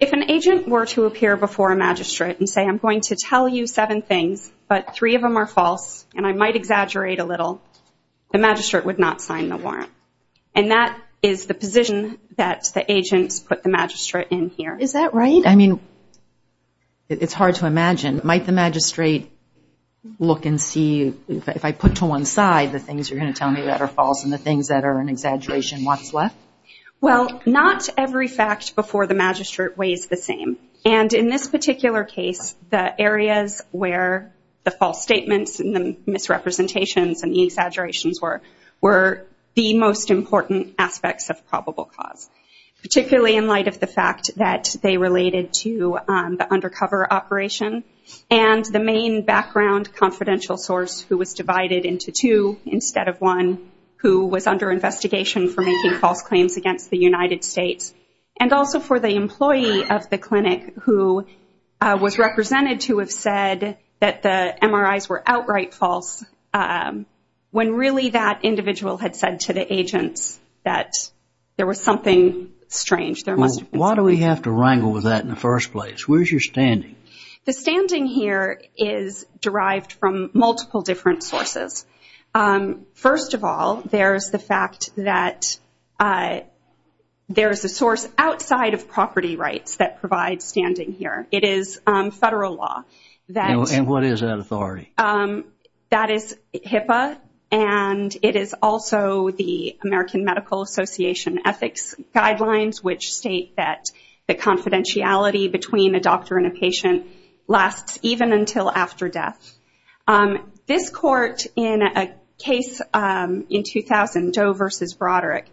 If an agent were to appear before a magistrate and say, I'm going to tell you seven things, but three of them are false, and I might exaggerate a little, the magistrate would not sign the warrant. And that is the position that the agents put the magistrate in here. Is that right? I mean, it's hard to imagine. Might the magistrate look and see, if I put to one side the things you're going to tell me that are false and the things that are an exaggeration, what's left? Well, not every fact before the magistrate weighs the same. And in this particular case, the areas where the false statements and the misrepresentations and the exaggerations were the most important aspects of probable cause. Particularly in light of the fact that they related to the undercover operation and the main background confidential source, who was divided into two instead of one, who was under investigation for making false claims against the United States. And also for the employee of the clinic who was represented to have said that the MRIs were outright false, when really that individual had said to the agents that there was something strange. Why do we have to wrangle with that in the first place? Where's your standing? The standing here is derived from multiple different sources. First of all, there's the fact that there's a source outside of property rights that provides standing here. It is federal law. And what is that authority? That is HIPAA, and it is also the American Medical Association ethics guidelines, which state that the confidentiality between a doctor and a patient lasts even until after death. This court in a case in 2000, Doe versus Broderick,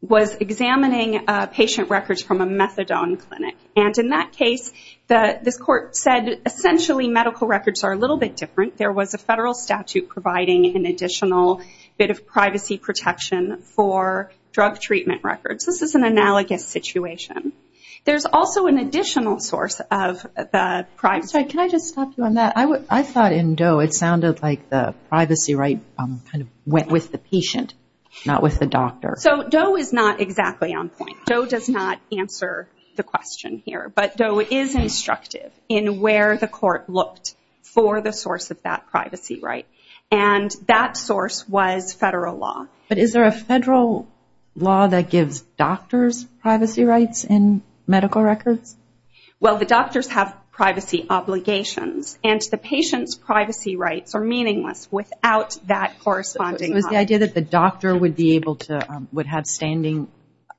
was examining patient records from a methadone clinic. And in that case, this court said essentially medical records are a little bit different. There was a federal statute providing an additional bit of privacy protection for drug treatment records. This is an analogous situation. There's also an additional source of the privacy. Can I just stop you on that? I thought in Doe it sounded like the privacy right kind of went with the patient, not with the doctor. So Doe is not exactly on point. Doe does not answer the question here. But Doe is instructive in where the court looked for the source of that privacy right. And that source was federal law. But is there a federal law that gives doctors privacy rights in medical records? Well, the doctors have privacy obligations, and the patient's privacy rights are meaningless without that corresponding right. So it was the idea that the doctor would be able to, would have standing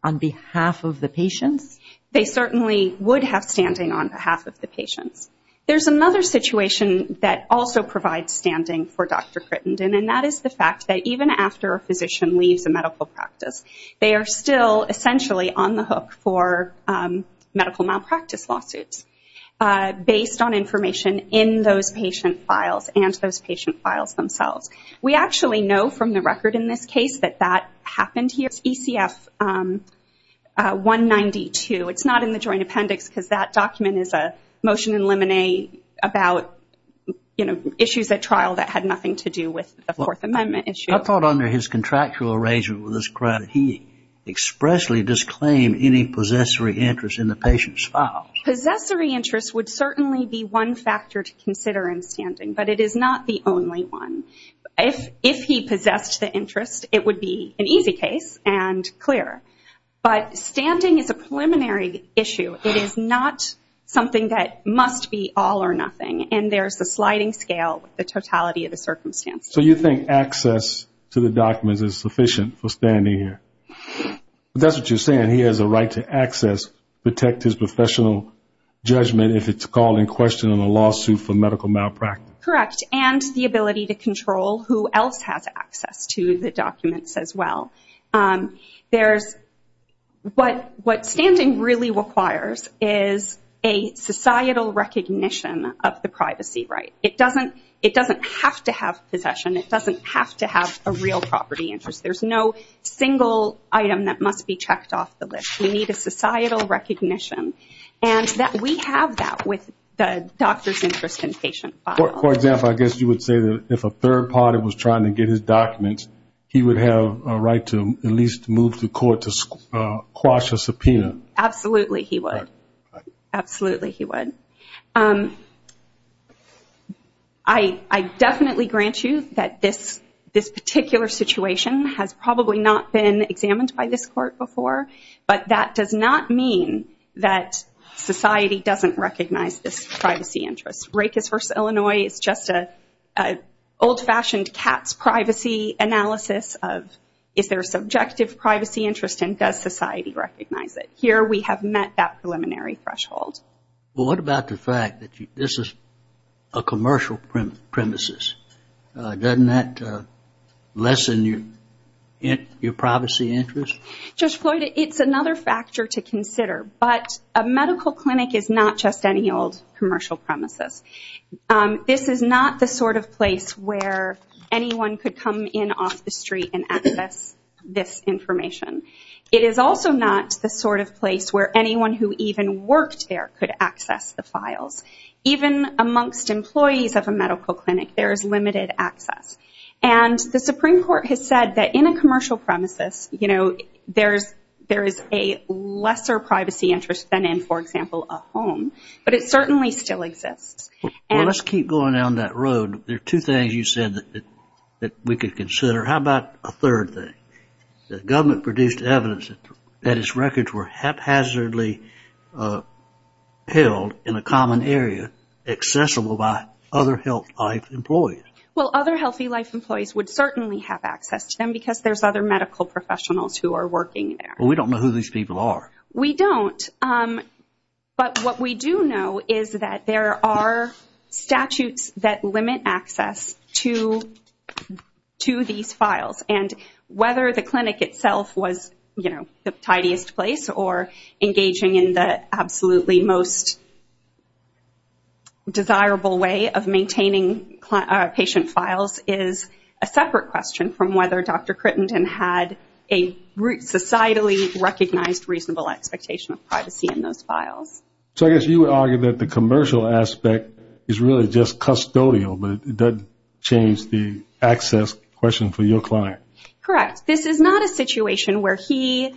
on behalf of the patients? They certainly would have standing on behalf of the patients. There's another situation that also provides standing for Dr. Crittenden, and that is the fact that even after a physician leaves a medical practice, they are still essentially on the hook for medical malpractice lawsuits based on information in those patient files and those patient files themselves. We actually know from the record in this case that that happened here. It's ECF 192. It's not in the joint appendix because that document is a motion in lemonade about issues at trial that had nothing to do with the Fourth Amendment issue. I thought under his contractual arrangement with us, he expressly disclaimed any possessory interest in the patient's file. Possessory interest would certainly be one factor to consider in standing, but it is not the only one. If he possessed the interest, it would be an easy case and clear, but standing is a preliminary issue. It is not something that must be all or nothing, and there's the sliding scale, the totality of the circumstances. So you think access to the documents is sufficient for standing here? That's what you're saying. He has a right to access, protect his professional judgment if it's called in question in a lawsuit for medical malpractice? Correct, and the ability to control who else has access to the documents as well. What standing really requires is a societal recognition of the privacy right. It doesn't have to have possession. It doesn't have to have a real property interest. There's no single item that must be checked off the list. We need a societal recognition, and we have that with the doctor's interest in patient files. For example, I guess you would say that if a third party was trying to get his documents, he would have a right to at least move to court to quash a subpoena. Absolutely he would. I definitely grant you that this particular situation has probably not been examined by this court before, but that does not mean that society doesn't recognize this privacy interest. Rakes v. Illinois is just an old-fashioned cat's privacy analysis of, is there a subjective privacy interest and does society recognize it? Here we have met that preliminary threshold. What about the fact that this is a commercial premises? Doesn't that lessen your privacy interest? Judge Floyd, it's another factor to consider, but a medical clinic is not just any old commercial premises. This is not the sort of place where anyone could come in off the street and access this information. It is also not the sort of place where anyone who even worked there could access the files. Even amongst employees of a medical clinic, there is limited access. And the Supreme Court has said that in a commercial premises, there is a lesser privacy interest than in, for example, a home, but it certainly still exists. Well, let's keep going down that road. There are two things you said that we could consider. How about a third thing? The government produced evidence that its records were haphazardly held in a common area accessible by other health life employees. Well, other healthy life employees would certainly have access to them because there's other medical professionals who are working there. We don't know who these people are. We don't, but what we do know is that there are statutes that limit access to these files. And whether the clinic itself was the tidiest place or engaging in the absolutely most desirable way of maintaining patient files is a separate question from whether Dr. Crittenden had a societally recognized reasonable expectation of privacy in those files. So I guess you would argue that the commercial aspect is really just custodial, but it does change the access question for your client. Correct. This is not a situation where he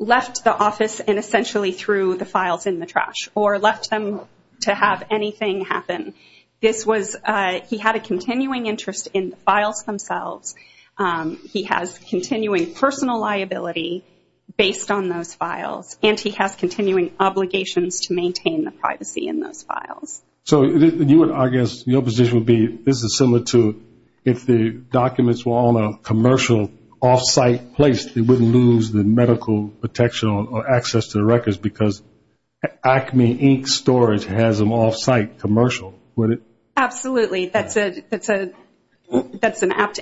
left the office and essentially threw the files in the trash or left them to have anything happen. He had a continuing interest in the files themselves. He has continuing personal liability based on those files, and he has continuing obligations to maintain the privacy in those files. So I guess your position would be this is similar to if the documents were on a commercial off-site place, they wouldn't lose the medical protection or access to the records because Acme, Inc. storage has an off-site commercial, would it? Absolutely. That's an apt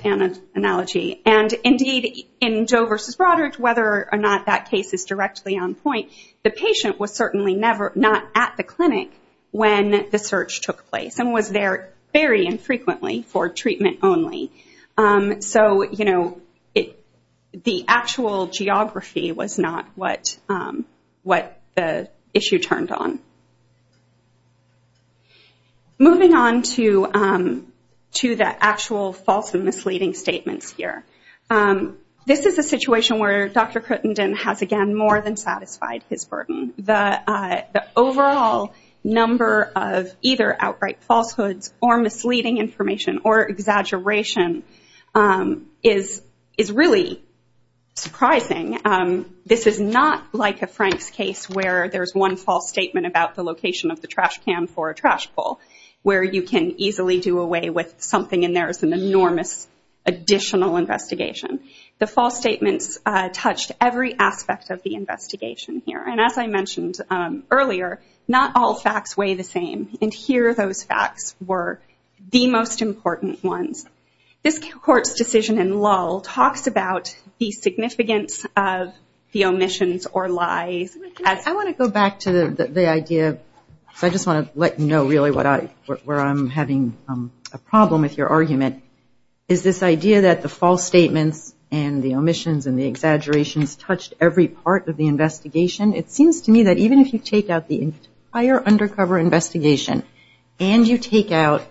analogy. And, indeed, in Joe v. Broderick, whether or not that case is directly on point, the patient was certainly not at the clinic when the search took place and was there very infrequently for treatment only. So the actual geography was not what the issue turned on. Moving on to the actual false and misleading statements here. This is a situation where Dr. Cruttenden has, again, more than satisfied his burden. The overall number of either outright falsehoods or misleading information or exaggeration is really surprising. This is not like a Franks case where there's one false statement about the location of the trash can for a trash pull, where you can easily do away with something and there's an enormous additional investigation. The false statements touched every aspect of the investigation here. And as I mentioned earlier, not all facts weigh the same. And here those facts were the most important ones. This court's decision in Lull talks about the significance of the omissions or lies. I want to go back to the idea. I just want to let you know really where I'm having a problem with your argument, is this idea that the false statements and the omissions and the exaggerations touched every part of the investigation. It seems to me that even if you take out the entire undercover investigation and you take out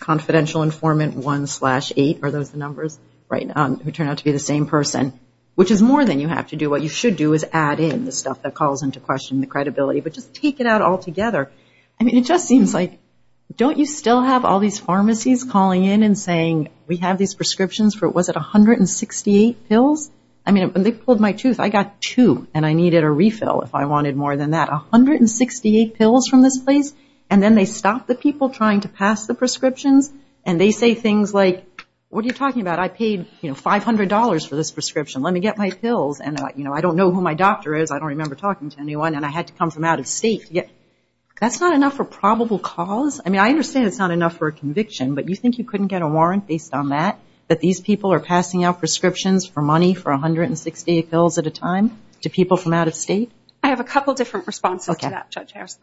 confidential informant 1-8, are those the numbers right now, who turned out to be the same person, which is more than you have to do. What you should do is add in the stuff that calls into question the credibility. But just take it out all together. I mean, it just seems like, don't you still have all these pharmacies calling in and saying, we have these prescriptions for, was it 168 pills? I mean, when they pulled my tooth, I got two and I needed a refill if I wanted more than that. 168 pills from this place? And then they stop the people trying to pass the prescriptions and they say things like, what are you talking about? I paid $500 for this prescription. Let me get my pills. And I don't know who my doctor is. I don't remember talking to anyone. And I had to come from out of state. That's not enough for probable cause? I mean, I understand it's not enough for a conviction, but you think you couldn't get a warrant based on that, that these people are passing out prescriptions for money for 168 pills at a time to people from out of state? I have a couple different responses to that, Judge Harris.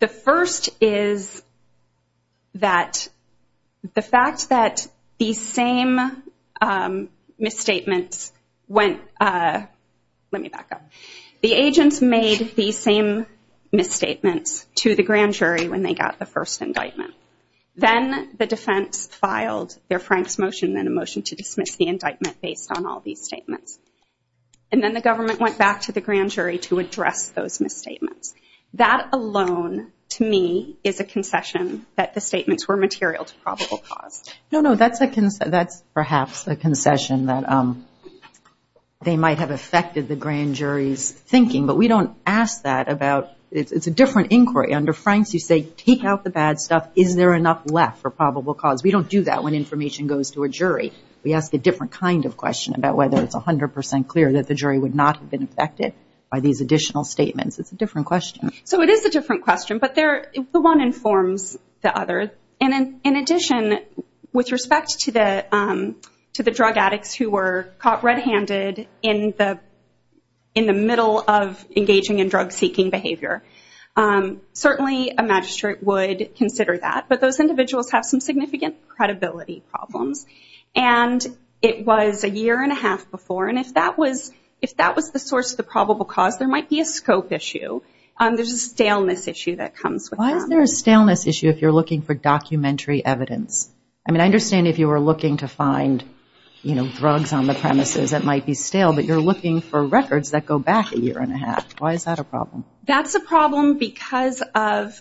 The first is that the fact that these same misstatements went, let me back up. The agents made these same misstatements to the grand jury when they got the first indictment. Then the defense filed their Franks motion and a motion to dismiss the indictment based on all these statements. And then the government went back to the grand jury to address those misstatements. That alone, to me, is a concession that the statements were material to probable cause. No, no, that's perhaps a concession that they might have affected the grand jury's thinking, but we don't ask that about, it's a different inquiry. Under Franks you say take out the bad stuff. Is there enough left for probable cause? We don't do that when information goes to a jury. We ask a different kind of question about whether it's 100% clear that the jury would not have been affected by these additional statements. It's a different question. So it is a different question, but the one informs the other. And in addition, with respect to the drug addicts who were caught red-handed in the middle of engaging in drug-seeking behavior, certainly a magistrate would consider that, but those individuals have some significant credibility problems. And it was a year and a half before, and if that was the source of the probable cause, there might be a scope issue. There's a staleness issue that comes with that. Why is there a staleness issue if you're looking for documentary evidence? I mean, I understand if you were looking to find, you know, drugs on the premises that might be stale, but you're looking for records that go back a year and a half. Why is that a problem? That's a problem because of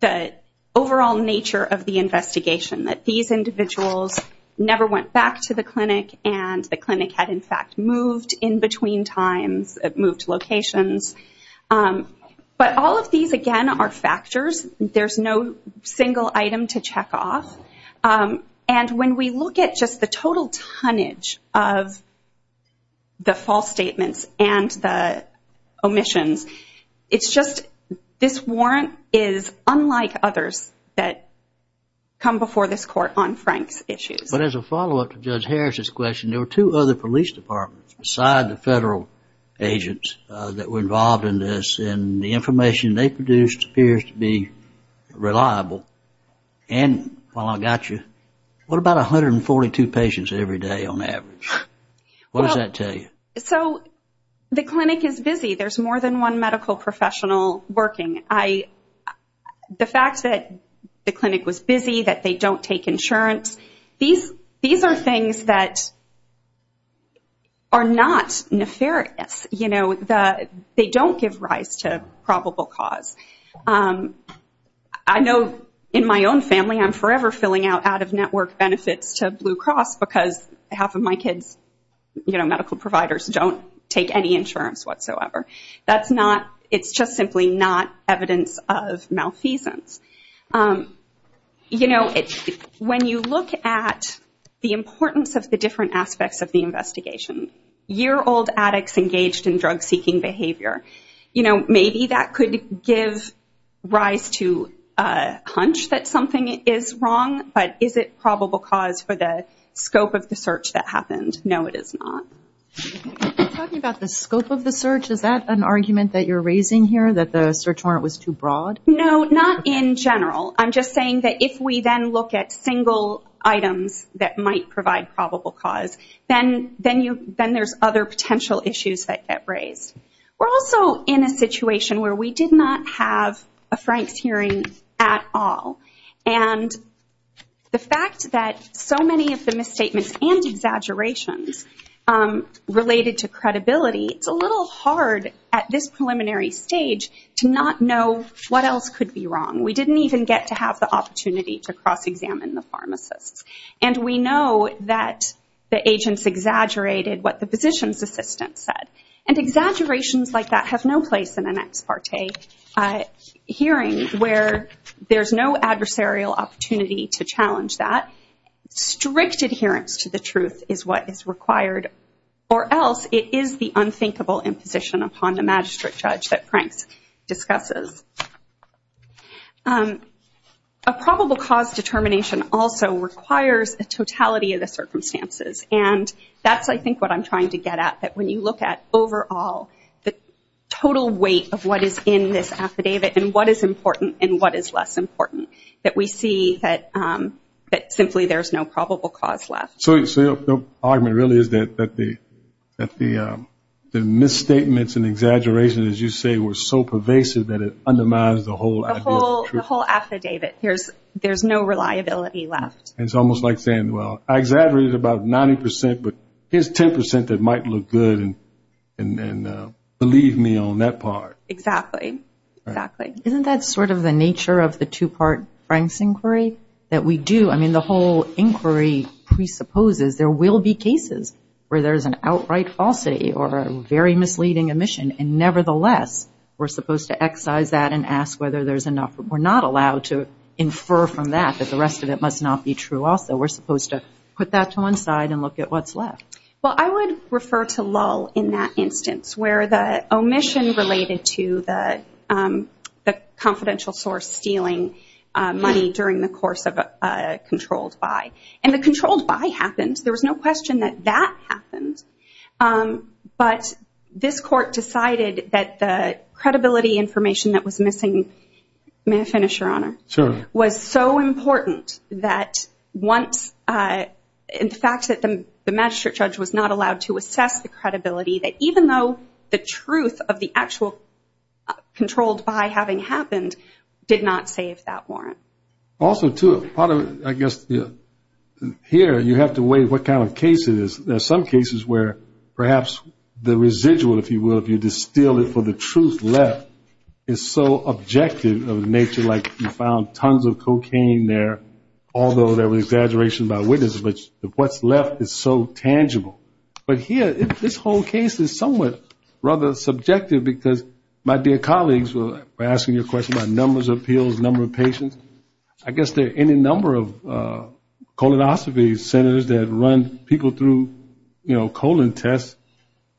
the overall nature of the investigation, that these individuals never went back to the clinic and the clinic had, in fact, moved in between times, moved locations. But all of these, again, are factors. There's no single item to check off. And when we look at just the total tonnage of the false statements and the omissions, it's just this warrant is unlike others that come before this court on Frank's issues. But as a follow-up to Judge Harris's question, there were two other police departments, beside the federal agents that were involved in this, and the information they produced appears to be reliable. And while I got you, what about 142 patients every day on average? What does that tell you? So the clinic is busy. There's more than one medical professional working. The fact that the clinic was busy, that they don't take insurance, these are things that are not nefarious. They don't give rise to probable cause. I know in my own family I'm forever filling out out-of-network benefits to Blue Cross because half of my kids' medical providers don't take any insurance whatsoever. It's just simply not evidence of malfeasance. When you look at the importance of the different aspects of the investigation, year-old addicts engaged in drug-seeking behavior, maybe that could give rise to a hunch that something is wrong, but is it probable cause for the scope of the search that happened? No, it is not. Are you talking about the scope of the search? Is that an argument that you're raising here, that the search warrant was too broad? No, not in general. I'm just saying that if we then look at single items that might provide probable cause, then there's other potential issues that get raised. We're also in a situation where we did not have a Franks hearing at all, and the fact that so many of the misstatements and exaggerations related to credibility, it's a little hard at this preliminary stage to not know what else could be wrong. We didn't even get to have the opportunity to cross-examine the pharmacists. And we know that the agents exaggerated what the physician's assistant said. And exaggerations like that have no place in an ex parte hearing, where there's no adversarial opportunity to challenge that. Strict adherence to the truth is what is required, or else it is the unthinkable imposition upon the magistrate judge that Franks discusses. A probable cause determination also requires a totality of the circumstances. And that's, I think, what I'm trying to get at, that when you look at overall, the total weight of what is in this affidavit and what is important and what is less important, that we see that simply there's no probable cause left. So the argument really is that the misstatements and exaggerations, as you say, were so pervasive that it undermines the whole idea of truth. The whole affidavit. There's no reliability left. It's almost like saying, well, I exaggerated about 90%, but here's 10% that might look good, and believe me on that part. Exactly. Isn't that sort of the nature of the two-part Franks inquiry, that we do? I mean, the whole inquiry presupposes there will be cases where there's an outright falsity or a very misleading omission, and nevertheless, we're supposed to excise that and ask whether there's enough. We're not allowed to infer from that that the rest of it must not be true also. We're supposed to put that to one side and look at what's left. Well, I would refer to Lull in that instance, where the omission related to the confidential source stealing money during the course of a controlled buy. And the controlled buy happened. There was no question that that happened. But this court decided that the credibility information that was missing may I finish, Your Honor? Sure. Was so important that once, in fact, that the magistrate judge was not allowed to assess the credibility, that even though the truth of the actual controlled buy having happened, did not save that warrant. Also, too, part of it, I guess, here you have to weigh what kind of case it is. There are some cases where perhaps the residual, if you will, if you distill it for the truth left is so objective of nature, like you found tons of cocaine there, although there were exaggerations by witnesses, but what's left is so tangible. But here, this whole case is somewhat rather subjective because my dear colleagues were asking you a question about numbers of pills, number of patients. I guess there are any number of colonoscopies centers that run people through, you know, colon tests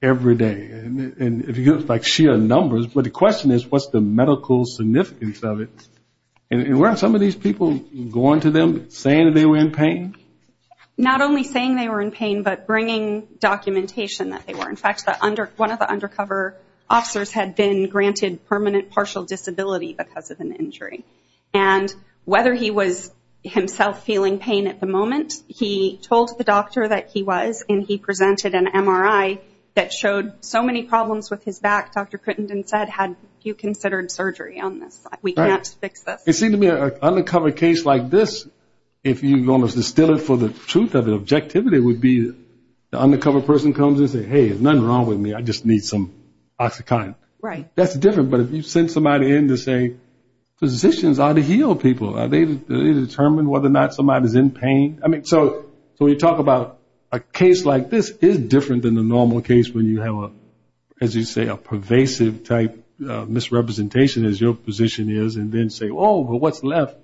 every day. And if you get like sheer numbers, but the question is, what's the medical significance of it? And weren't some of these people going to them saying that they were in pain? Not only saying they were in pain, but bringing documentation that they were. In fact, one of the undercover officers had been granted permanent partial disability because of an injury. And whether he was himself feeling pain at the moment, he told the doctor that he was, and he presented an MRI that showed so many problems with his back, Dr. Crittenden said, had you considered surgery on this? We can't fix this. It seemed to me an undercover case like this, if you're going to distill it for the truth of the objectivity, it would be the undercover person comes and says, hey, there's nothing wrong with me, I just need some OxyContin. Right. That's different. But if you send somebody in to say physicians ought to heal people, are they determined whether or not somebody is in pain? I mean, so when you talk about a case like this, it is different than the normal case when you have, as you say, a pervasive type of misrepresentation, as your position is, and then say, oh, but what's left?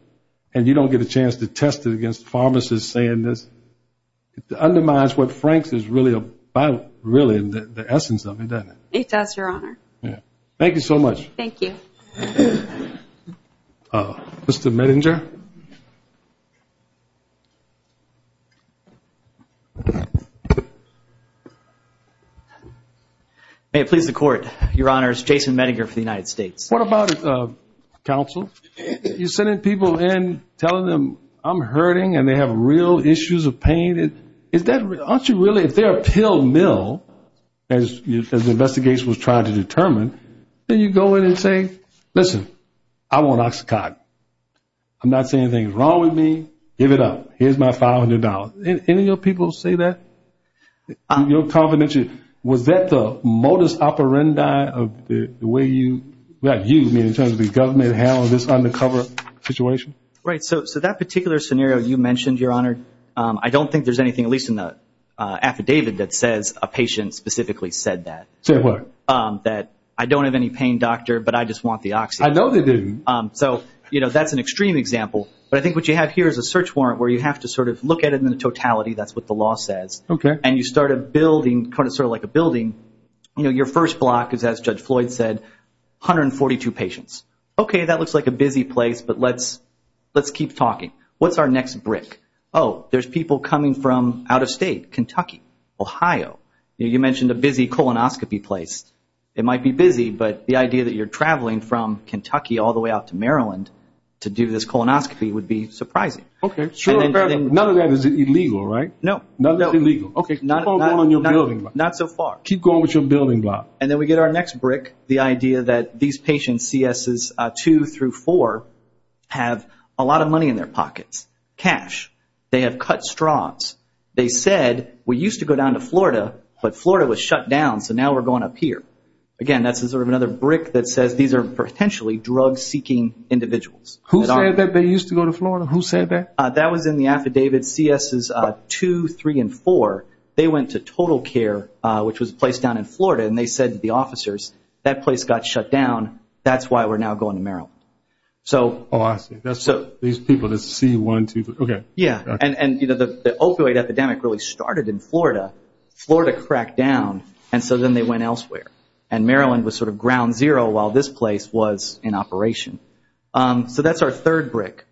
And you don't get a chance to test it against pharmacists saying this. It undermines what Franks is really about, really, the essence of it, doesn't it? It does, Your Honor. Thank you so much. Thank you. Mr. Medinger. May it please the Court, Your Honors, Jason Medinger for the United States. What about counsel? You're sending people in, telling them I'm hurting and they have real issues of pain. Aren't you really, if they're a pill mill, as the investigation was trying to determine, then you go in and say, listen, I want OxyContin. I'm not saying anything's wrong with me. Give it up. Here's my $500. Any of your people say that? Your confidentiality, was that the modus operandi of the way you, in terms of the government, handled this undercover situation? Right. So that particular scenario you mentioned, Your Honor, I don't think there's anything, at least in the affidavit, that says a patient specifically said that. Said what? That I don't have any pain, doctor, but I just want the Oxy. I know they didn't. So, you know, that's an extreme example. But I think what you have here is a search warrant where you have to sort of look at it in totality. That's what the law says. Okay. And you start a building, sort of like a building. You know, your first block is, as Judge Floyd said, 142 patients. Okay, that looks like a busy place, but let's keep talking. What's our next brick? Oh, there's people coming from out of state, Kentucky, Ohio. You mentioned a busy colonoscopy place. It might be busy, but the idea that you're traveling from Kentucky all the way out to Maryland to do this colonoscopy would be surprising. Okay. None of that is illegal, right? No. None is illegal. Okay. Keep going with your building block. Not so far. Keep going with your building block. And then we get our next brick, the idea that these patients, C.S.s. 2 through 4, have a lot of money in their pockets, cash. They have cut straws. They said, we used to go down to Florida, but Florida was shut down, so now we're going up here. Again, that's sort of another brick that says these are potentially drug-seeking individuals. Who said that they used to go to Florida? Who said that? That was in the affidavit, C.S.s. 2, 3, and 4. They went to Total Care, which was a place down in Florida, and they said to the officers, that place got shut down. That's why we're now going to Maryland. Oh, I see. These people, this is C.1, 2, 3. Okay. Yeah. And the opioid epidemic really started in Florida. Florida cracked down, and so then they went elsewhere. And Maryland was sort of ground zero while this place was in operation. So that's our third brick.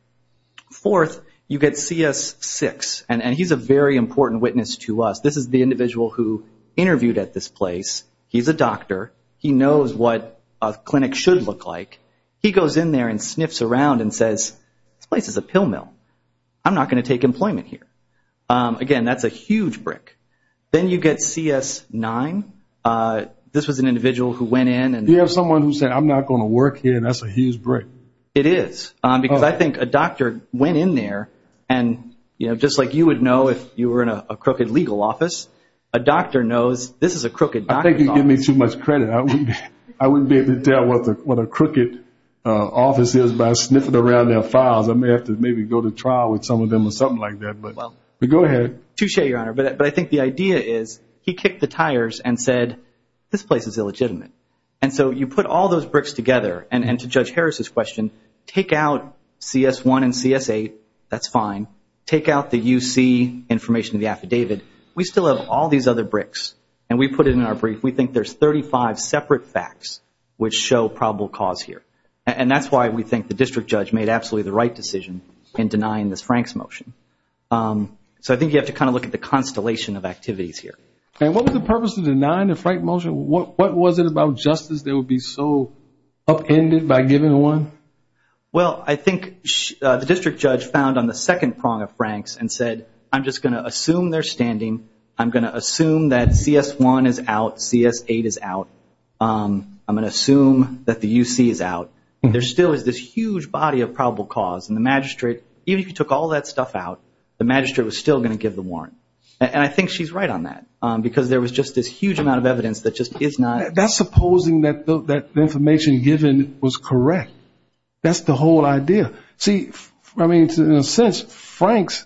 Fourth, you get C.S. 6, and he's a very important witness to us. This is the individual who interviewed at this place. He's a doctor. He knows what a clinic should look like. He goes in there and sniffs around and says, this place is a pill mill. I'm not going to take employment here. Again, that's a huge brick. Then you get C.S. 9. This was an individual who went in. You have someone who said, I'm not going to work here. That's a huge brick. It is. Because I think a doctor went in there, and, you know, just like you would know if you were in a crooked legal office, a doctor knows this is a crooked doctor's office. I think you give me too much credit. I wouldn't be able to tell what a crooked office is by sniffing around their files. I may have to maybe go to trial with some of them or something like that. But go ahead. Touche, Your Honor. But I think the idea is he kicked the tires and said, this place is illegitimate. And so you put all those bricks together. And to Judge Harris's question, take out C.S. 1 and C.S. 8. That's fine. Take out the U.C. information in the affidavit. We still have all these other bricks, and we put it in our brief. We think there's 35 separate facts which show probable cause here. And that's why we think the district judge made absolutely the right decision in denying this Franks motion. So I think you have to kind of look at the constellation of activities here. And what was the purpose of denying the Franks motion? What was it about justice that would be so upended by giving one? Well, I think the district judge found on the second prong of Franks and said, I'm just going to assume they're standing. I'm going to assume that C.S. 1 is out, C.S. 8 is out. I'm going to assume that the U.C. is out. There still is this huge body of probable cause. And the magistrate, even if he took all that stuff out, the magistrate was still going to give the warrant. And I think she's right on that, because there was just this huge amount of evidence that just is not. That's supposing that the information given was correct. That's the whole idea. See, I mean, in a sense, Franks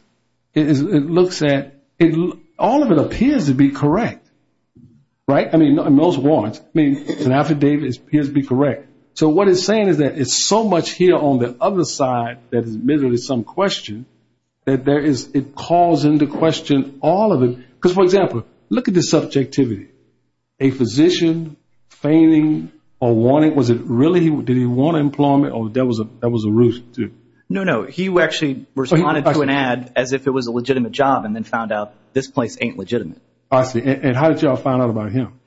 looks at all of it appears to be correct, right? I mean, those warrants. I mean, an affidavit appears to be correct. So what it's saying is that it's so much here on the other side that is admittedly some question that it calls into question all of it. Because, for example, look at the subjectivity. A physician feigning a warning, was it really did he want employment or that was a ruse too? No, no. He actually responded to an ad as if it was a legitimate job and then found out this place ain't legitimate. I see. And how did y'all find out about him?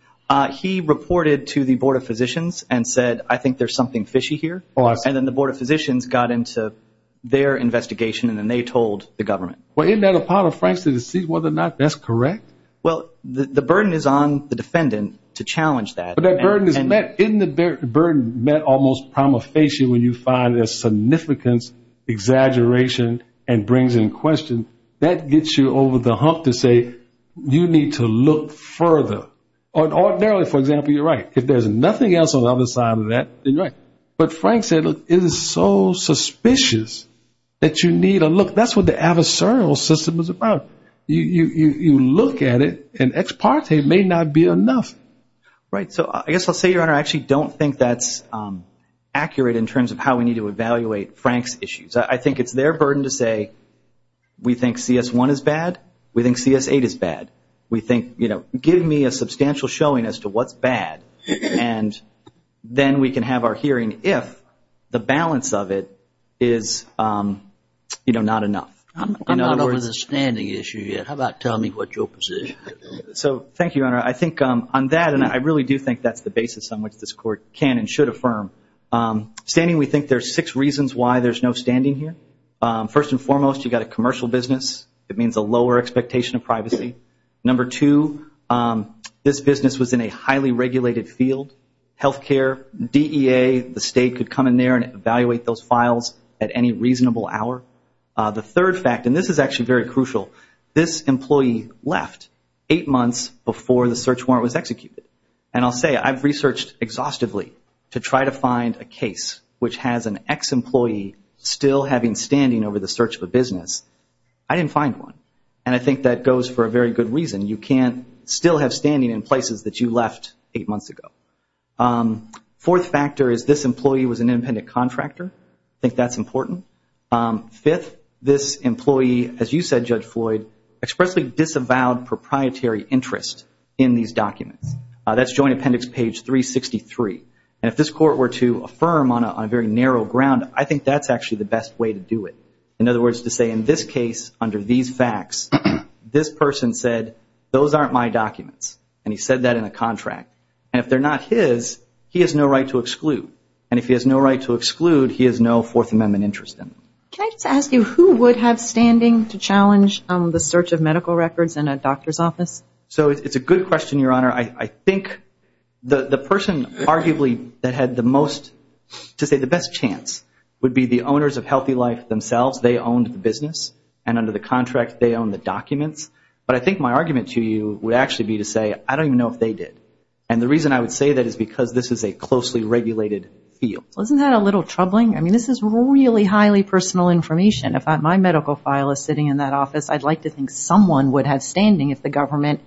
He reported to the Board of Physicians and said, I think there's something fishy here. And then the Board of Physicians got into their investigation and then they told the government. Well, isn't that a part of Franks' deceit, whether or not that's correct? Well, the burden is on the defendant to challenge that. But that burden is met. Isn't the burden met almost promulgation when you find there's significance, exaggeration, and brings in question? That gets you over the hump to say you need to look further. Or ordinarily, for example, you're right. If there's nothing else on the other side of that, then you're right. But Franks said, look, it is so suspicious that you need to look. That's what the adversarial system is about. You look at it and ex parte may not be enough. Right. So I guess I'll say, Your Honor, I actually don't think that's accurate in terms of how we need to evaluate Franks' issues. I think it's their burden to say we think CS-1 is bad, we think CS-8 is bad. We think, you know, give me a substantial showing as to what's bad, and then we can have our hearing if the balance of it is, you know, not enough. I'm not over the standing issue yet. How about tell me what your position is? So thank you, Your Honor. I think on that, and I really do think that's the basis on which this Court can and should affirm, standing we think there's six reasons why there's no standing here. First and foremost, you've got a commercial business. It means a lower expectation of privacy. Number two, this business was in a highly regulated field. Health care, DEA, the state could come in there and evaluate those files at any reasonable hour. The third fact, and this is actually very crucial, this employee left eight months before the search warrant was executed. And I'll say I've researched exhaustively to try to find a case which has an ex-employee still having standing over the search of a business. I didn't find one. And I think that goes for a very good reason. You can't still have standing in places that you left eight months ago. Fourth factor is this employee was an independent contractor. I think that's important. Fifth, this employee, as you said, Judge Floyd, expressly disavowed proprietary interest in these documents. That's Joint Appendix page 363. And if this Court were to affirm on a very narrow ground, I think that's actually the best way to do it. In other words, to say in this case, under these facts, this person said, those aren't my documents. And he said that in a contract. And if they're not his, he has no right to exclude. And if he has no right to exclude, he has no Fourth Amendment interest in them. Can I just ask you, who would have standing to challenge the search of medical records in a doctor's office? So it's a good question, Your Honor. I think the person arguably that had the most, to say the best chance, would be the owners of Healthy Life themselves. They owned the business. And under the contract, they owned the documents. But I think my argument to you would actually be to say, I don't even know if they did. And the reason I would say that is because this is a closely regulated field. Isn't that a little troubling? I mean, this is really highly personal information. If my medical file is sitting in that office, I'd like to think someone would have standing if the government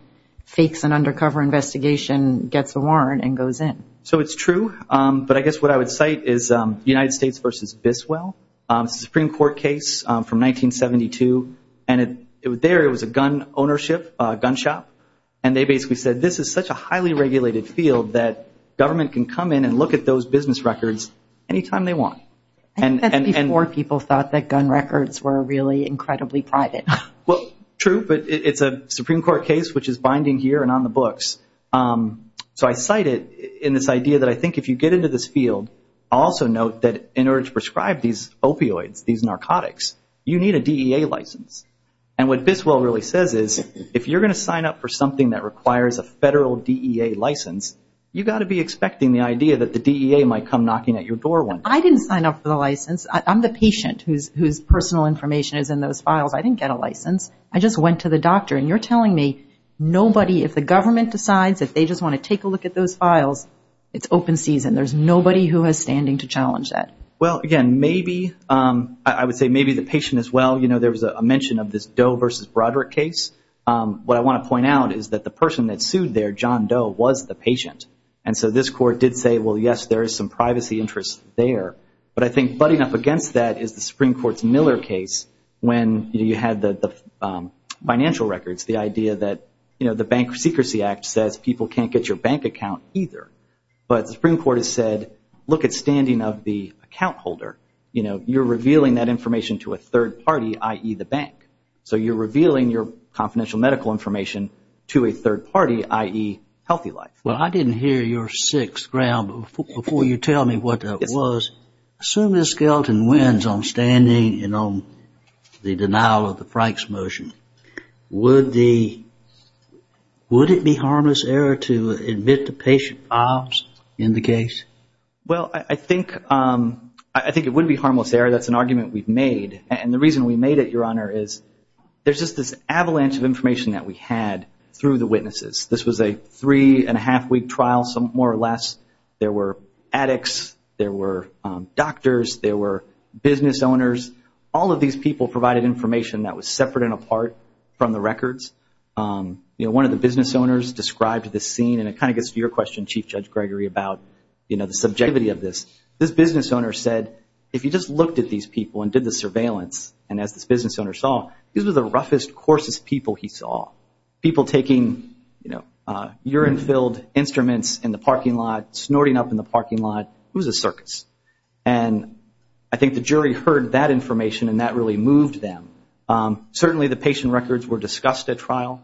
fakes an undercover investigation, gets a warrant, and goes in. So it's true. But I guess what I would cite is United States v. Biswell. It's a Supreme Court case from 1972. And there it was a gun ownership, a gun shop. And they basically said, this is such a highly regulated field that government can come in and look at those business records any time they want. I think that's before people thought that gun records were really incredibly private. Well, true. But it's a Supreme Court case, which is binding here and on the books. So I cite it in this idea that I think if you get into this field, also note that in order to prescribe these opioids, these narcotics, you need a DEA license. And what Biswell really says is, if you're going to sign up for something that requires a federal DEA license, you've got to be expecting the idea that the DEA might come knocking at your door one day. I didn't sign up for the license. I'm the patient whose personal information is in those files. I didn't get a license. I just went to the doctor. And you're telling me nobody, if the government decides that they just want to take a look at those files, it's open season. There's nobody who has standing to challenge that. Well, again, maybe, I would say maybe the patient as well. You know, there was a mention of this Doe versus Broderick case. What I want to point out is that the person that sued there, John Doe, was the patient. And so this court did say, well, yes, there is some privacy interest there. But I think butting up against that is the Supreme Court's Miller case when you had the financial records, the idea that, you know, the Bank Secrecy Act says people can't get your bank account either. But the Supreme Court has said, look at standing of the account holder. You know, you're revealing that information to a third party, i.e., the bank. So you're revealing your confidential medical information to a third party, i.e., Healthy Life. Well, I didn't hear your sixth round. Before you tell me what that was, assume this skeleton wins on standing and on the denial of the Franks motion. Would it be harmless error to admit the patient files in the case? Well, I think it would be harmless error. That's an argument we've made. And the reason we made it, Your Honor, is there's just this avalanche of information that we had through the witnesses. This was a three-and-a-half-week trial, more or less. There were addicts. There were doctors. There were business owners. All of these people provided information that was separate and apart from the records. You know, one of the business owners described this scene, and it kind of gets to your question, Chief Judge Gregory, about, you know, the subjectivity of this. This business owner said, if you just looked at these people and did the surveillance, and as this business owner saw, these were the roughest, coarsest people he saw, people taking, you know, urine-filled instruments in the parking lot, snorting up in the parking lot, it was a circus. And I think the jury heard that information, and that really moved them. Certainly the patient records were discussed at trial.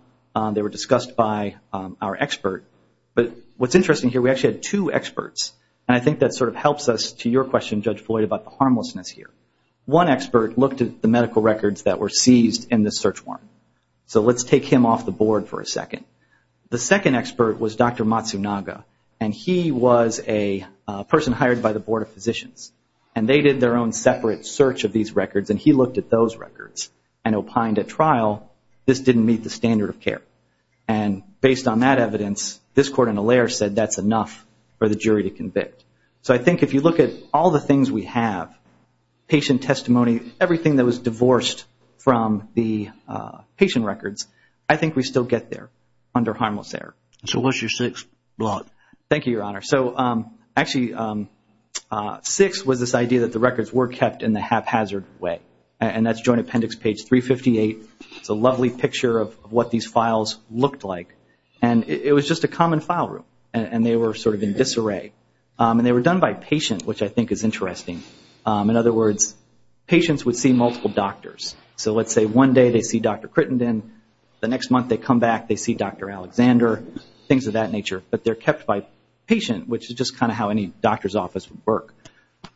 They were discussed by our expert. But what's interesting here, we actually had two experts, and I think that sort of helps us to your question, Judge Floyd, about the harmlessness here. One expert looked at the medical records that were seized in the search warrant. So let's take him off the board for a second. The second expert was Dr. Matsunaga, and he was a person hired by the Board of Physicians. And they did their own separate search of these records, and he looked at those records and opined at trial this didn't meet the standard of care. And based on that evidence, this court in Allaire said that's enough for the jury to convict. So I think if you look at all the things we have, patient testimony, everything that was divorced from the patient records, I think we still get there under harmless error. So what's your sixth blot? Thank you, Your Honor. So actually sixth was this idea that the records were kept in the haphazard way, and that's Joint Appendix page 358. It's a lovely picture of what these files looked like. And it was just a common file room, and they were sort of in disarray. And they were done by patient, which I think is interesting. In other words, patients would see multiple doctors. So let's say one day they see Dr. Crittenden. The next month they come back, they see Dr. Alexander, things of that nature. But they're kept by patient, which is just kind of how any doctor's office would work.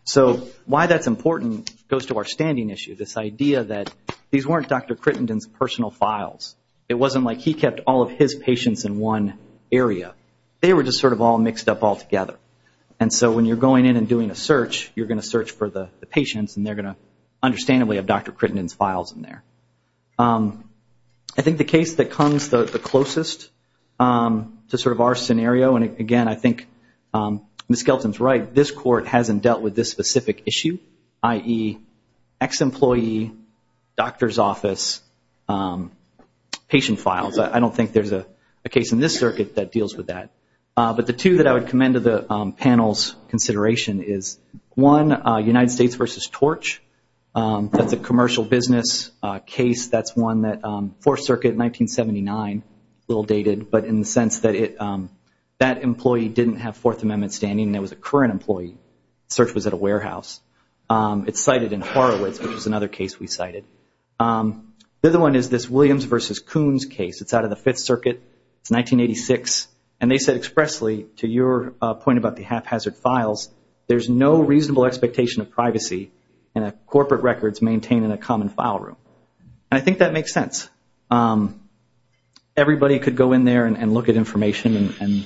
So why that's important goes to our standing issue, this idea that these weren't Dr. Crittenden's personal files. It wasn't like he kept all of his patients in one area. They were just sort of all mixed up all together. And so when you're going in and doing a search, you're going to search for the patients, and they're going to understandably have Dr. Crittenden's files in there. I think the case that comes the closest to sort of our scenario, and, again, I think Ms. Skelton's right, this Court hasn't dealt with this specific issue, i.e., ex-employee, doctor's office, patient files. I don't think there's a case in this circuit that deals with that. But the two that I would commend to the panel's consideration is, one, United States v. Torch. That's a commercial business case. That's one that Fourth Circuit, 1979, a little dated, but in the sense that that employee didn't have Fourth Amendment standing and it was a current employee. The search was at a warehouse. It's cited in Horowitz, which is another case we cited. The other one is this Williams v. Coons case. It's out of the Fifth Circuit. It's 1986, and they said expressly, to your point about the haphazard files, there's no reasonable expectation of privacy in a corporate records maintained in a common file room. And I think that makes sense. Everybody could go in there and look at information, and,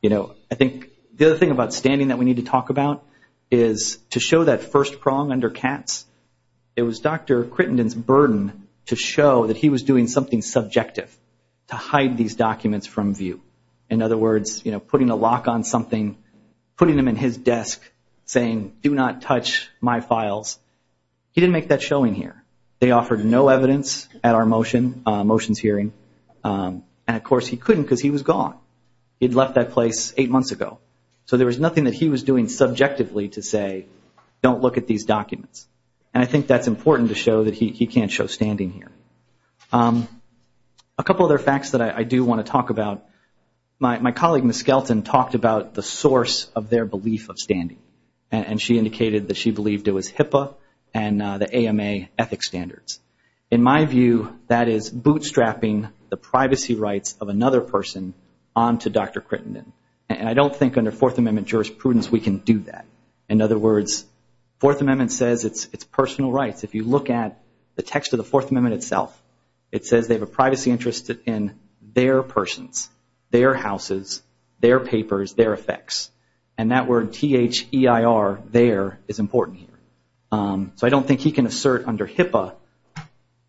you know, I think the other thing about standing that we need to talk about is to show that first prong under cats. It was Dr. Crittenden's burden to show that he was doing something subjective to hide these documents from view. In other words, you know, putting a lock on something, putting them in his desk, saying do not touch my files. He didn't make that showing here. They offered no evidence at our motions hearing, and, of course, he couldn't because he was gone. He had left that place eight months ago. So there was nothing that he was doing subjectively to say don't look at these documents, and I think that's important to show that he can't show standing here. A couple other facts that I do want to talk about. My colleague, Ms. Skelton, talked about the source of their belief of standing, and she indicated that she believed it was HIPAA and the AMA ethics standards. In my view, that is bootstrapping the privacy rights of another person onto Dr. Crittenden, and I don't think under Fourth Amendment jurisprudence we can do that. In other words, Fourth Amendment says it's personal rights. If you look at the text of the Fourth Amendment itself, it says they have a privacy interest in their persons, their houses, their papers, their effects, and that word, T-H-E-I-R, there, is important here. So I don't think he can assert under HIPAA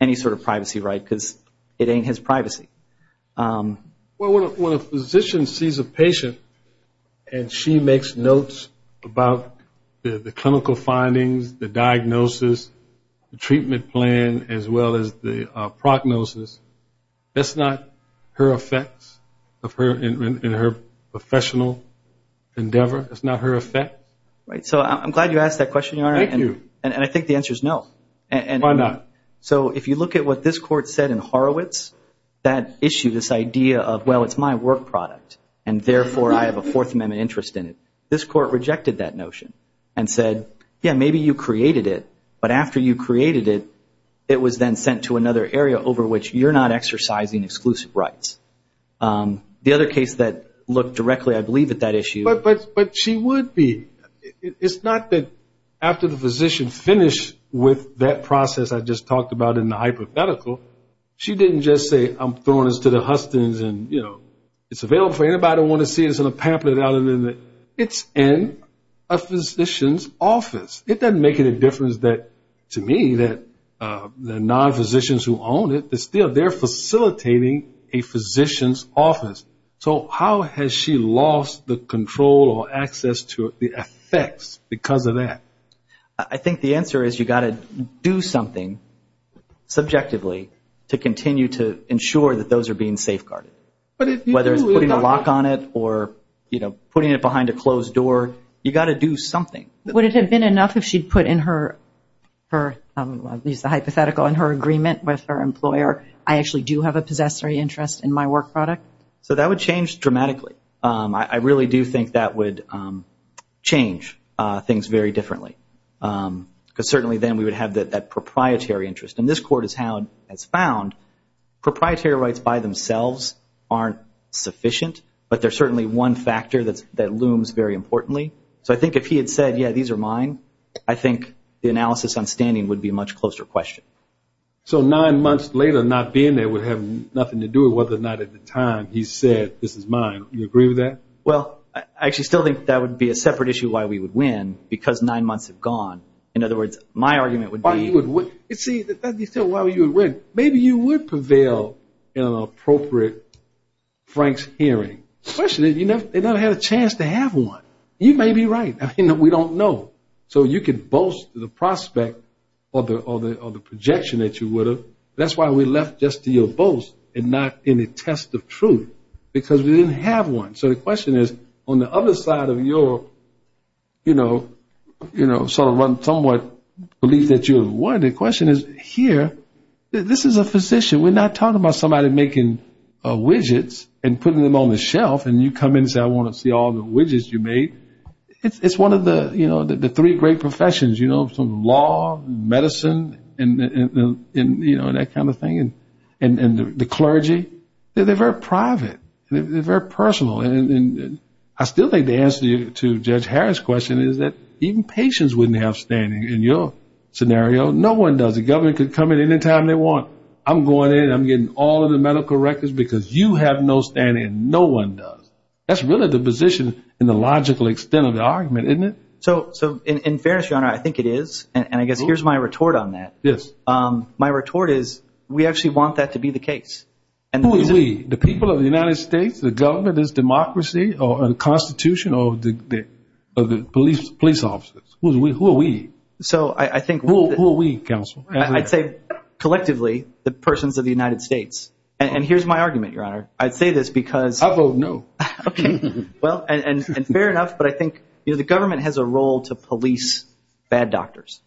any sort of privacy right because it ain't his privacy. Well, when a physician sees a patient and she makes notes about the clinical findings, the diagnosis, the treatment plan, as well as the prognosis, that's not her effects in her professional endeavor? That's not her effects? Right. So I'm glad you asked that question, Your Honor. Thank you. And I think the answer is no. Why not? So if you look at what this Court said in Horowitz, that issue, this idea of, well, it's my work product, and therefore I have a Fourth Amendment interest in it, this Court rejected that notion and said, yeah, maybe you created it, but after you created it, it was then sent to another area over which you're not exercising exclusive rights. The other case that looked directly, I believe, at that issue… But she would be. It's not that after the physician finished with that process I just talked about in the hypothetical, she didn't just say, I'm throwing this to the Hustons and, you know, it's available for anybody who wants to see it. It's in a pamphlet. It's in a physician's office. It doesn't make any difference to me that the non-physicians who own it, they're still there facilitating a physician's office. So how has she lost the control or access to the effects because of that? I think the answer is you've got to do something subjectively to continue to ensure that those are being safeguarded. Whether it's putting a lock on it or, you know, putting it behind a closed door, you've got to do something. Would it have been enough if she'd put in her hypothetical and her agreement with her employer, I actually do have a possessory interest in my work product? So that would change dramatically. I really do think that would change things very differently because certainly then we would have that proprietary interest. And this court has found proprietary rights by themselves aren't sufficient, but they're certainly one factor that looms very importantly. So I think if he had said, yeah, these are mine, I think the analysis on standing would be a much closer question. So nine months later not being there would have nothing to do with whether or not at the time he said this is mine. Do you agree with that? Well, I actually still think that would be a separate issue why we would win because nine months have gone. In other words, my argument would be. See, that's why you would win. Maybe you would prevail in an appropriate Frank's hearing. The question is you never had a chance to have one. You may be right. We don't know. So you could boast to the prospect or the projection that you would have. That's why we left just to your boast and not any test of truth because we didn't have one. So the question is on the other side of your, you know, sort of somewhat belief that you would have won. The question is here. This is a physician. We're not talking about somebody making widgets and putting them on the shelf and you come in and say, I want to see all the widgets you made. It's one of the, you know, the three great professions, you know, some law, medicine, and, you know, that kind of thing, and the clergy. They're very private. They're very personal. And I still think the answer to Judge Harris' question is that even patients wouldn't have standing in your scenario. No one does. The government could come in any time they want. I'm going in. I'm getting all of the medical records because you have no standing. No one does. That's really the position and the logical extent of the argument, isn't it? So in fairness, Your Honor, I think it is, and I guess here's my retort on that. Yes. My retort is we actually want that to be the case. Who are we, the people of the United States, the government, this democracy, or the Constitution, or the police officers? Who are we? Who are we, counsel? I'd say collectively the persons of the United States. And here's my argument, Your Honor. I'd say this because. I vote no. Okay. Well, and fair enough, but I think, you know, the government has a role to police bad doctors,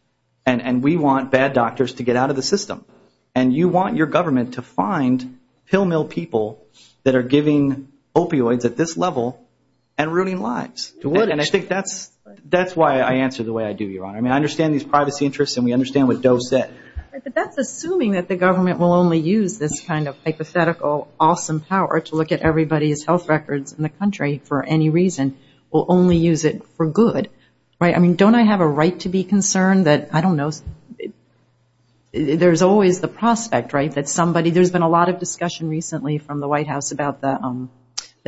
and we want bad doctors to get out of the system. And you want your government to find pill mill people that are giving opioids at this level and ruining lives. And I think that's why I answer the way I do, Your Honor. I mean, I understand these privacy interests, and we understand what Doe said. But that's assuming that the government will only use this kind of hypothetical awesome power to look at everybody's health records in the country for any reason, will only use it for good, right? I mean, don't I have a right to be concerned that, I don't know, there's always the prospect, right, that somebody, there's been a lot of discussion recently from the White House about the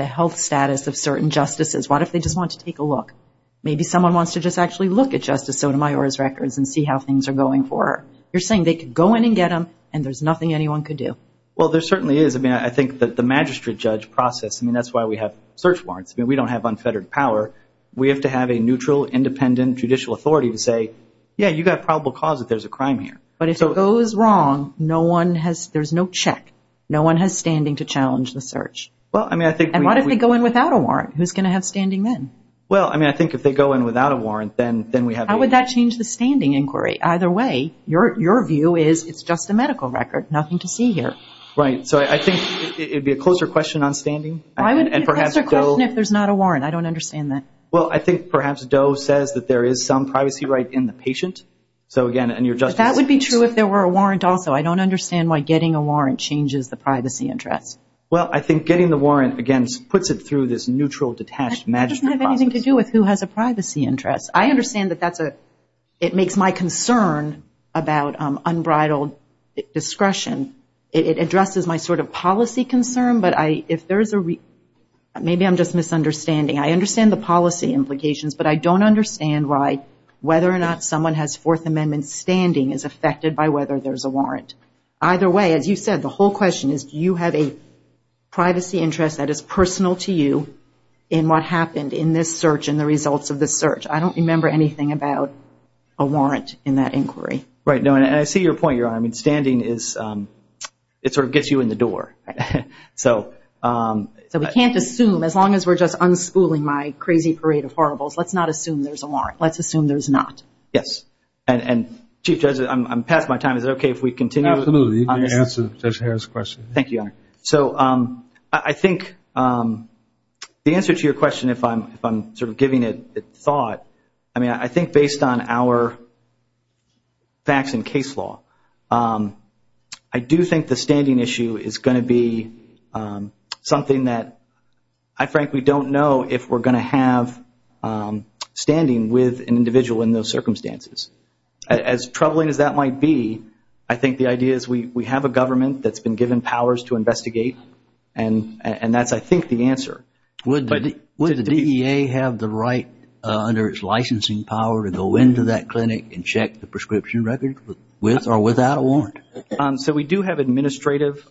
health status of certain justices. What if they just want to take a look? Maybe someone wants to just actually look at Justice Sotomayor's records and see how things are going for her. You're saying they could go in and get them, and there's nothing anyone could do. Well, there certainly is. I mean, I think that the magistrate judge process, I mean, that's why we have search warrants. I mean, we don't have unfettered power. We have to have a neutral, independent judicial authority to say, yeah, you've got probable cause that there's a crime here. But if it goes wrong, there's no check. No one has standing to challenge the search. And what if they go in without a warrant? Who's going to have standing then? Well, I mean, I think if they go in without a warrant, then we have a… How would that change the standing inquiry? Either way, your view is it's just a medical record, nothing to see here. Right. So I think it would be a closer question on standing. Why would it be a closer question if there's not a warrant? I don't understand that. Well, I think perhaps Doe says that there is some privacy right in the patient. So, again, and your justice… But that would be true if there were a warrant also. I don't understand why getting a warrant changes the privacy interests. Well, I think getting the warrant, again, puts it through this neutral, detached magistrate process. That doesn't have anything to do with who has a privacy interest. I understand that that's a… It makes my concern about unbridled discretion. It addresses my sort of policy concern, but if there's a… Maybe I'm just misunderstanding. I understand the policy implications, but I don't understand why whether or not someone has Fourth Amendment standing is affected by whether there's a warrant. Either way, as you said, the whole question is, do you have a privacy interest that is personal to you in what happened in this search and the results of this search? I don't remember anything about a warrant in that inquiry. Right. And I see your point, Your Honor. I mean, standing is… It sort of gets you in the door. So… So we can't assume, as long as we're just unspooling my crazy parade of horribles, let's not assume there's a warrant. Let's assume there's not. Yes. And, Chief Judge, I'm past my time. Is it okay if we continue? Absolutely. You can answer Judge Harris' question. Thank you, Your Honor. All right. So I think the answer to your question, if I'm sort of giving it thought, I mean, I think based on our facts and case law, I do think the standing issue is going to be something that I frankly don't know if we're going to have standing with an individual in those circumstances. As troubling as that might be, I think the idea is we have a government that's been given powers to investigate, and that's, I think, the answer. Would the DEA have the right, under its licensing power, to go into that clinic and check the prescription record with or without a warrant? So we do have administrative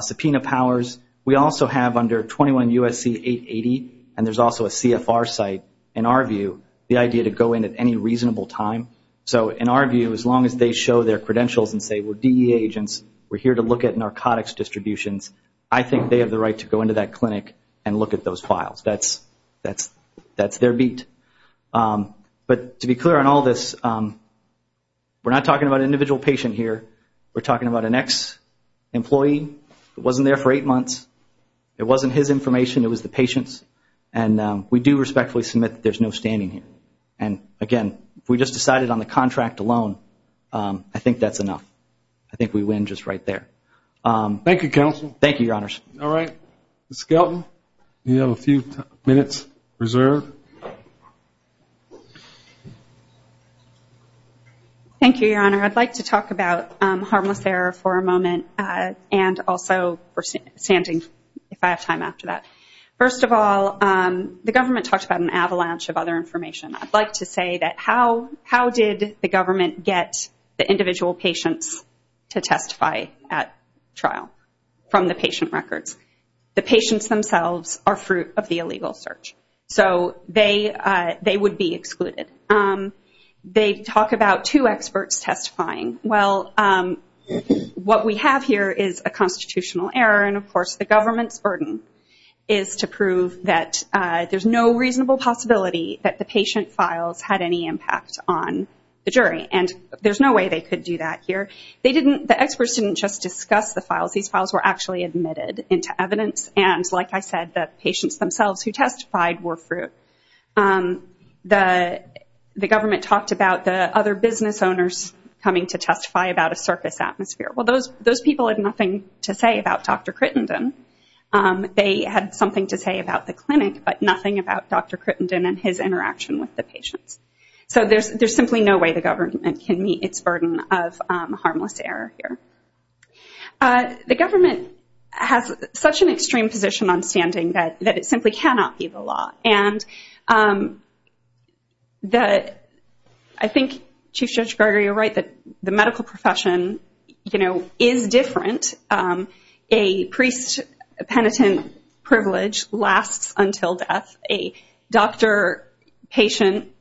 subpoena powers. We also have, under 21 U.S.C. 880, and there's also a CFR site, in our view, the idea to go in at any reasonable time. So in our view, as long as they show their credentials and say we're DEA agents, we're here to look at narcotics distributions, I think they have the right to go into that clinic and look at those files. That's their beat. But to be clear on all this, we're not talking about an individual patient here. We're talking about an ex-employee who wasn't there for eight months. It wasn't his information. It was the patient's. And we do respectfully submit that there's no standing here. And, again, if we just decided on the contract alone, I think that's enough. I think we win just right there. Thank you, Counsel. Thank you, Your Honors. All right. Ms. Skelton, you have a few minutes reserved. Thank you, Your Honor. I'd like to talk about harmless error for a moment, and also for standing, if I have time after that. First of all, the government talks about an avalanche of other information. I'd like to say that how did the government get the individual patients to testify at trial from the patient records? The patients themselves are fruit of the illegal search. So they would be excluded. They talk about two experts testifying. Well, what we have here is a constitutional error, and, of course, the government's burden is to prove that there's no reasonable possibility that the patient files had any impact on the jury. And there's no way they could do that here. The experts didn't just discuss the files. These files were actually admitted into evidence. And, like I said, the patients themselves who testified were fruit. The government talked about the other business owners coming to testify about a circus atmosphere. Well, those people had nothing to say about Dr. Crittenden. They had something to say about the clinic, but nothing about Dr. Crittenden and his interaction with the patients. So there's simply no way the government can meet its burden of harmless error here. The government has such an extreme position on standing that it simply cannot be the law. And I think Chief Judge Gregory, you're right that the medical profession is different. A priest-penitent privilege lasts until death. A doctor-patient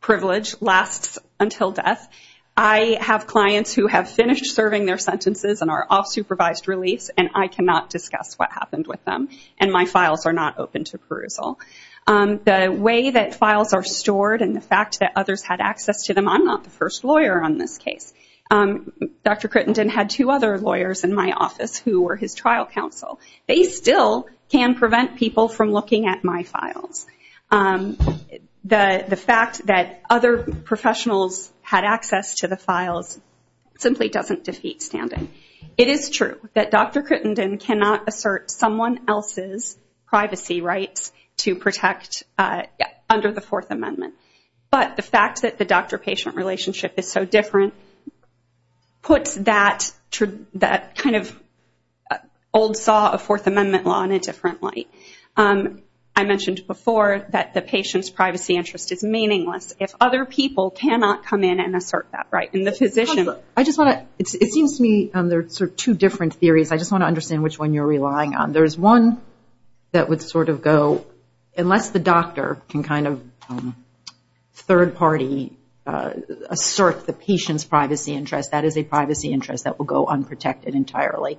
privilege lasts until death. I have clients who have finished serving their sentences and are off supervised release, and I cannot discuss what happened with them, and my files are not open to perusal. The way that files are stored and the fact that others had access to them, I'm not the first lawyer on this case. Dr. Crittenden had two other lawyers in my office who were his trial counsel. They still can prevent people from looking at my files. The fact that other professionals had access to the files simply doesn't defeat standing. It is true that Dr. Crittenden cannot assert someone else's privacy rights to protect under the Fourth Amendment, but the fact that the doctor-patient relationship is so different puts that kind of old saw of Fourth Amendment law in a different light. I mentioned before that the patient's privacy interest is meaningless if other people cannot come in and assert that right, and the physician. It seems to me there are two different theories. I just want to understand which one you're relying on. There's one that would sort of go, unless the doctor can kind of third-party assert the patient's privacy interest, that is a privacy interest that will go unprotected entirely,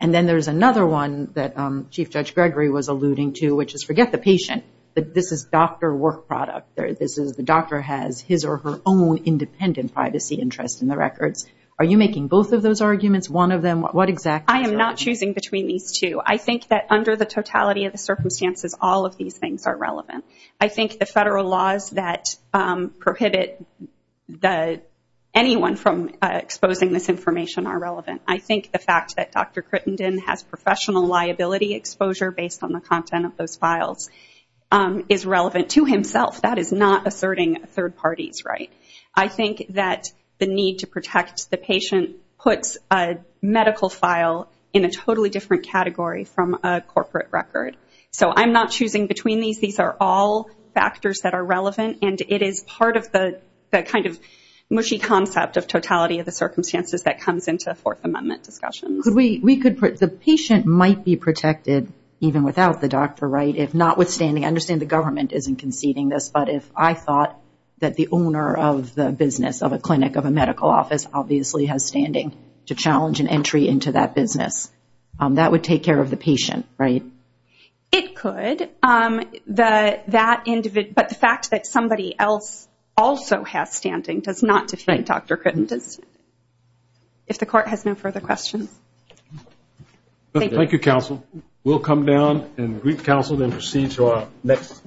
and then there's another one that Chief Judge Gregory was alluding to, which is forget the patient. This is doctor work product. The doctor has his or her own independent privacy interest in the records. Are you making both of those arguments, one of them? What exactly? I am not choosing between these two. I think that under the totality of the circumstances, all of these things are relevant. I think the federal laws that prohibit anyone from exposing this information are relevant. I think the fact that Dr. Crittenden has professional liability exposure based on the content of those files is relevant to himself. That is not asserting third parties' right. I think that the need to protect the patient puts a medical file in a totally different category from a corporate record. So I'm not choosing between these. These are all factors that are relevant, and it is part of the kind of mushy concept of totality of the circumstances that comes into Fourth Amendment discussions. The patient might be protected even without the doctor, right? If notwithstanding, I understand the government isn't conceding this, but if I thought that the owner of the business of a clinic, of a medical office, obviously has standing to challenge an entry into that business, that would take care of the patient, right? It could. But the fact that somebody else also has standing does not defeat Dr. Crittenden. If the Court has no further questions. Thank you, Counsel. We'll come down and greet Counsel and proceed to our next case.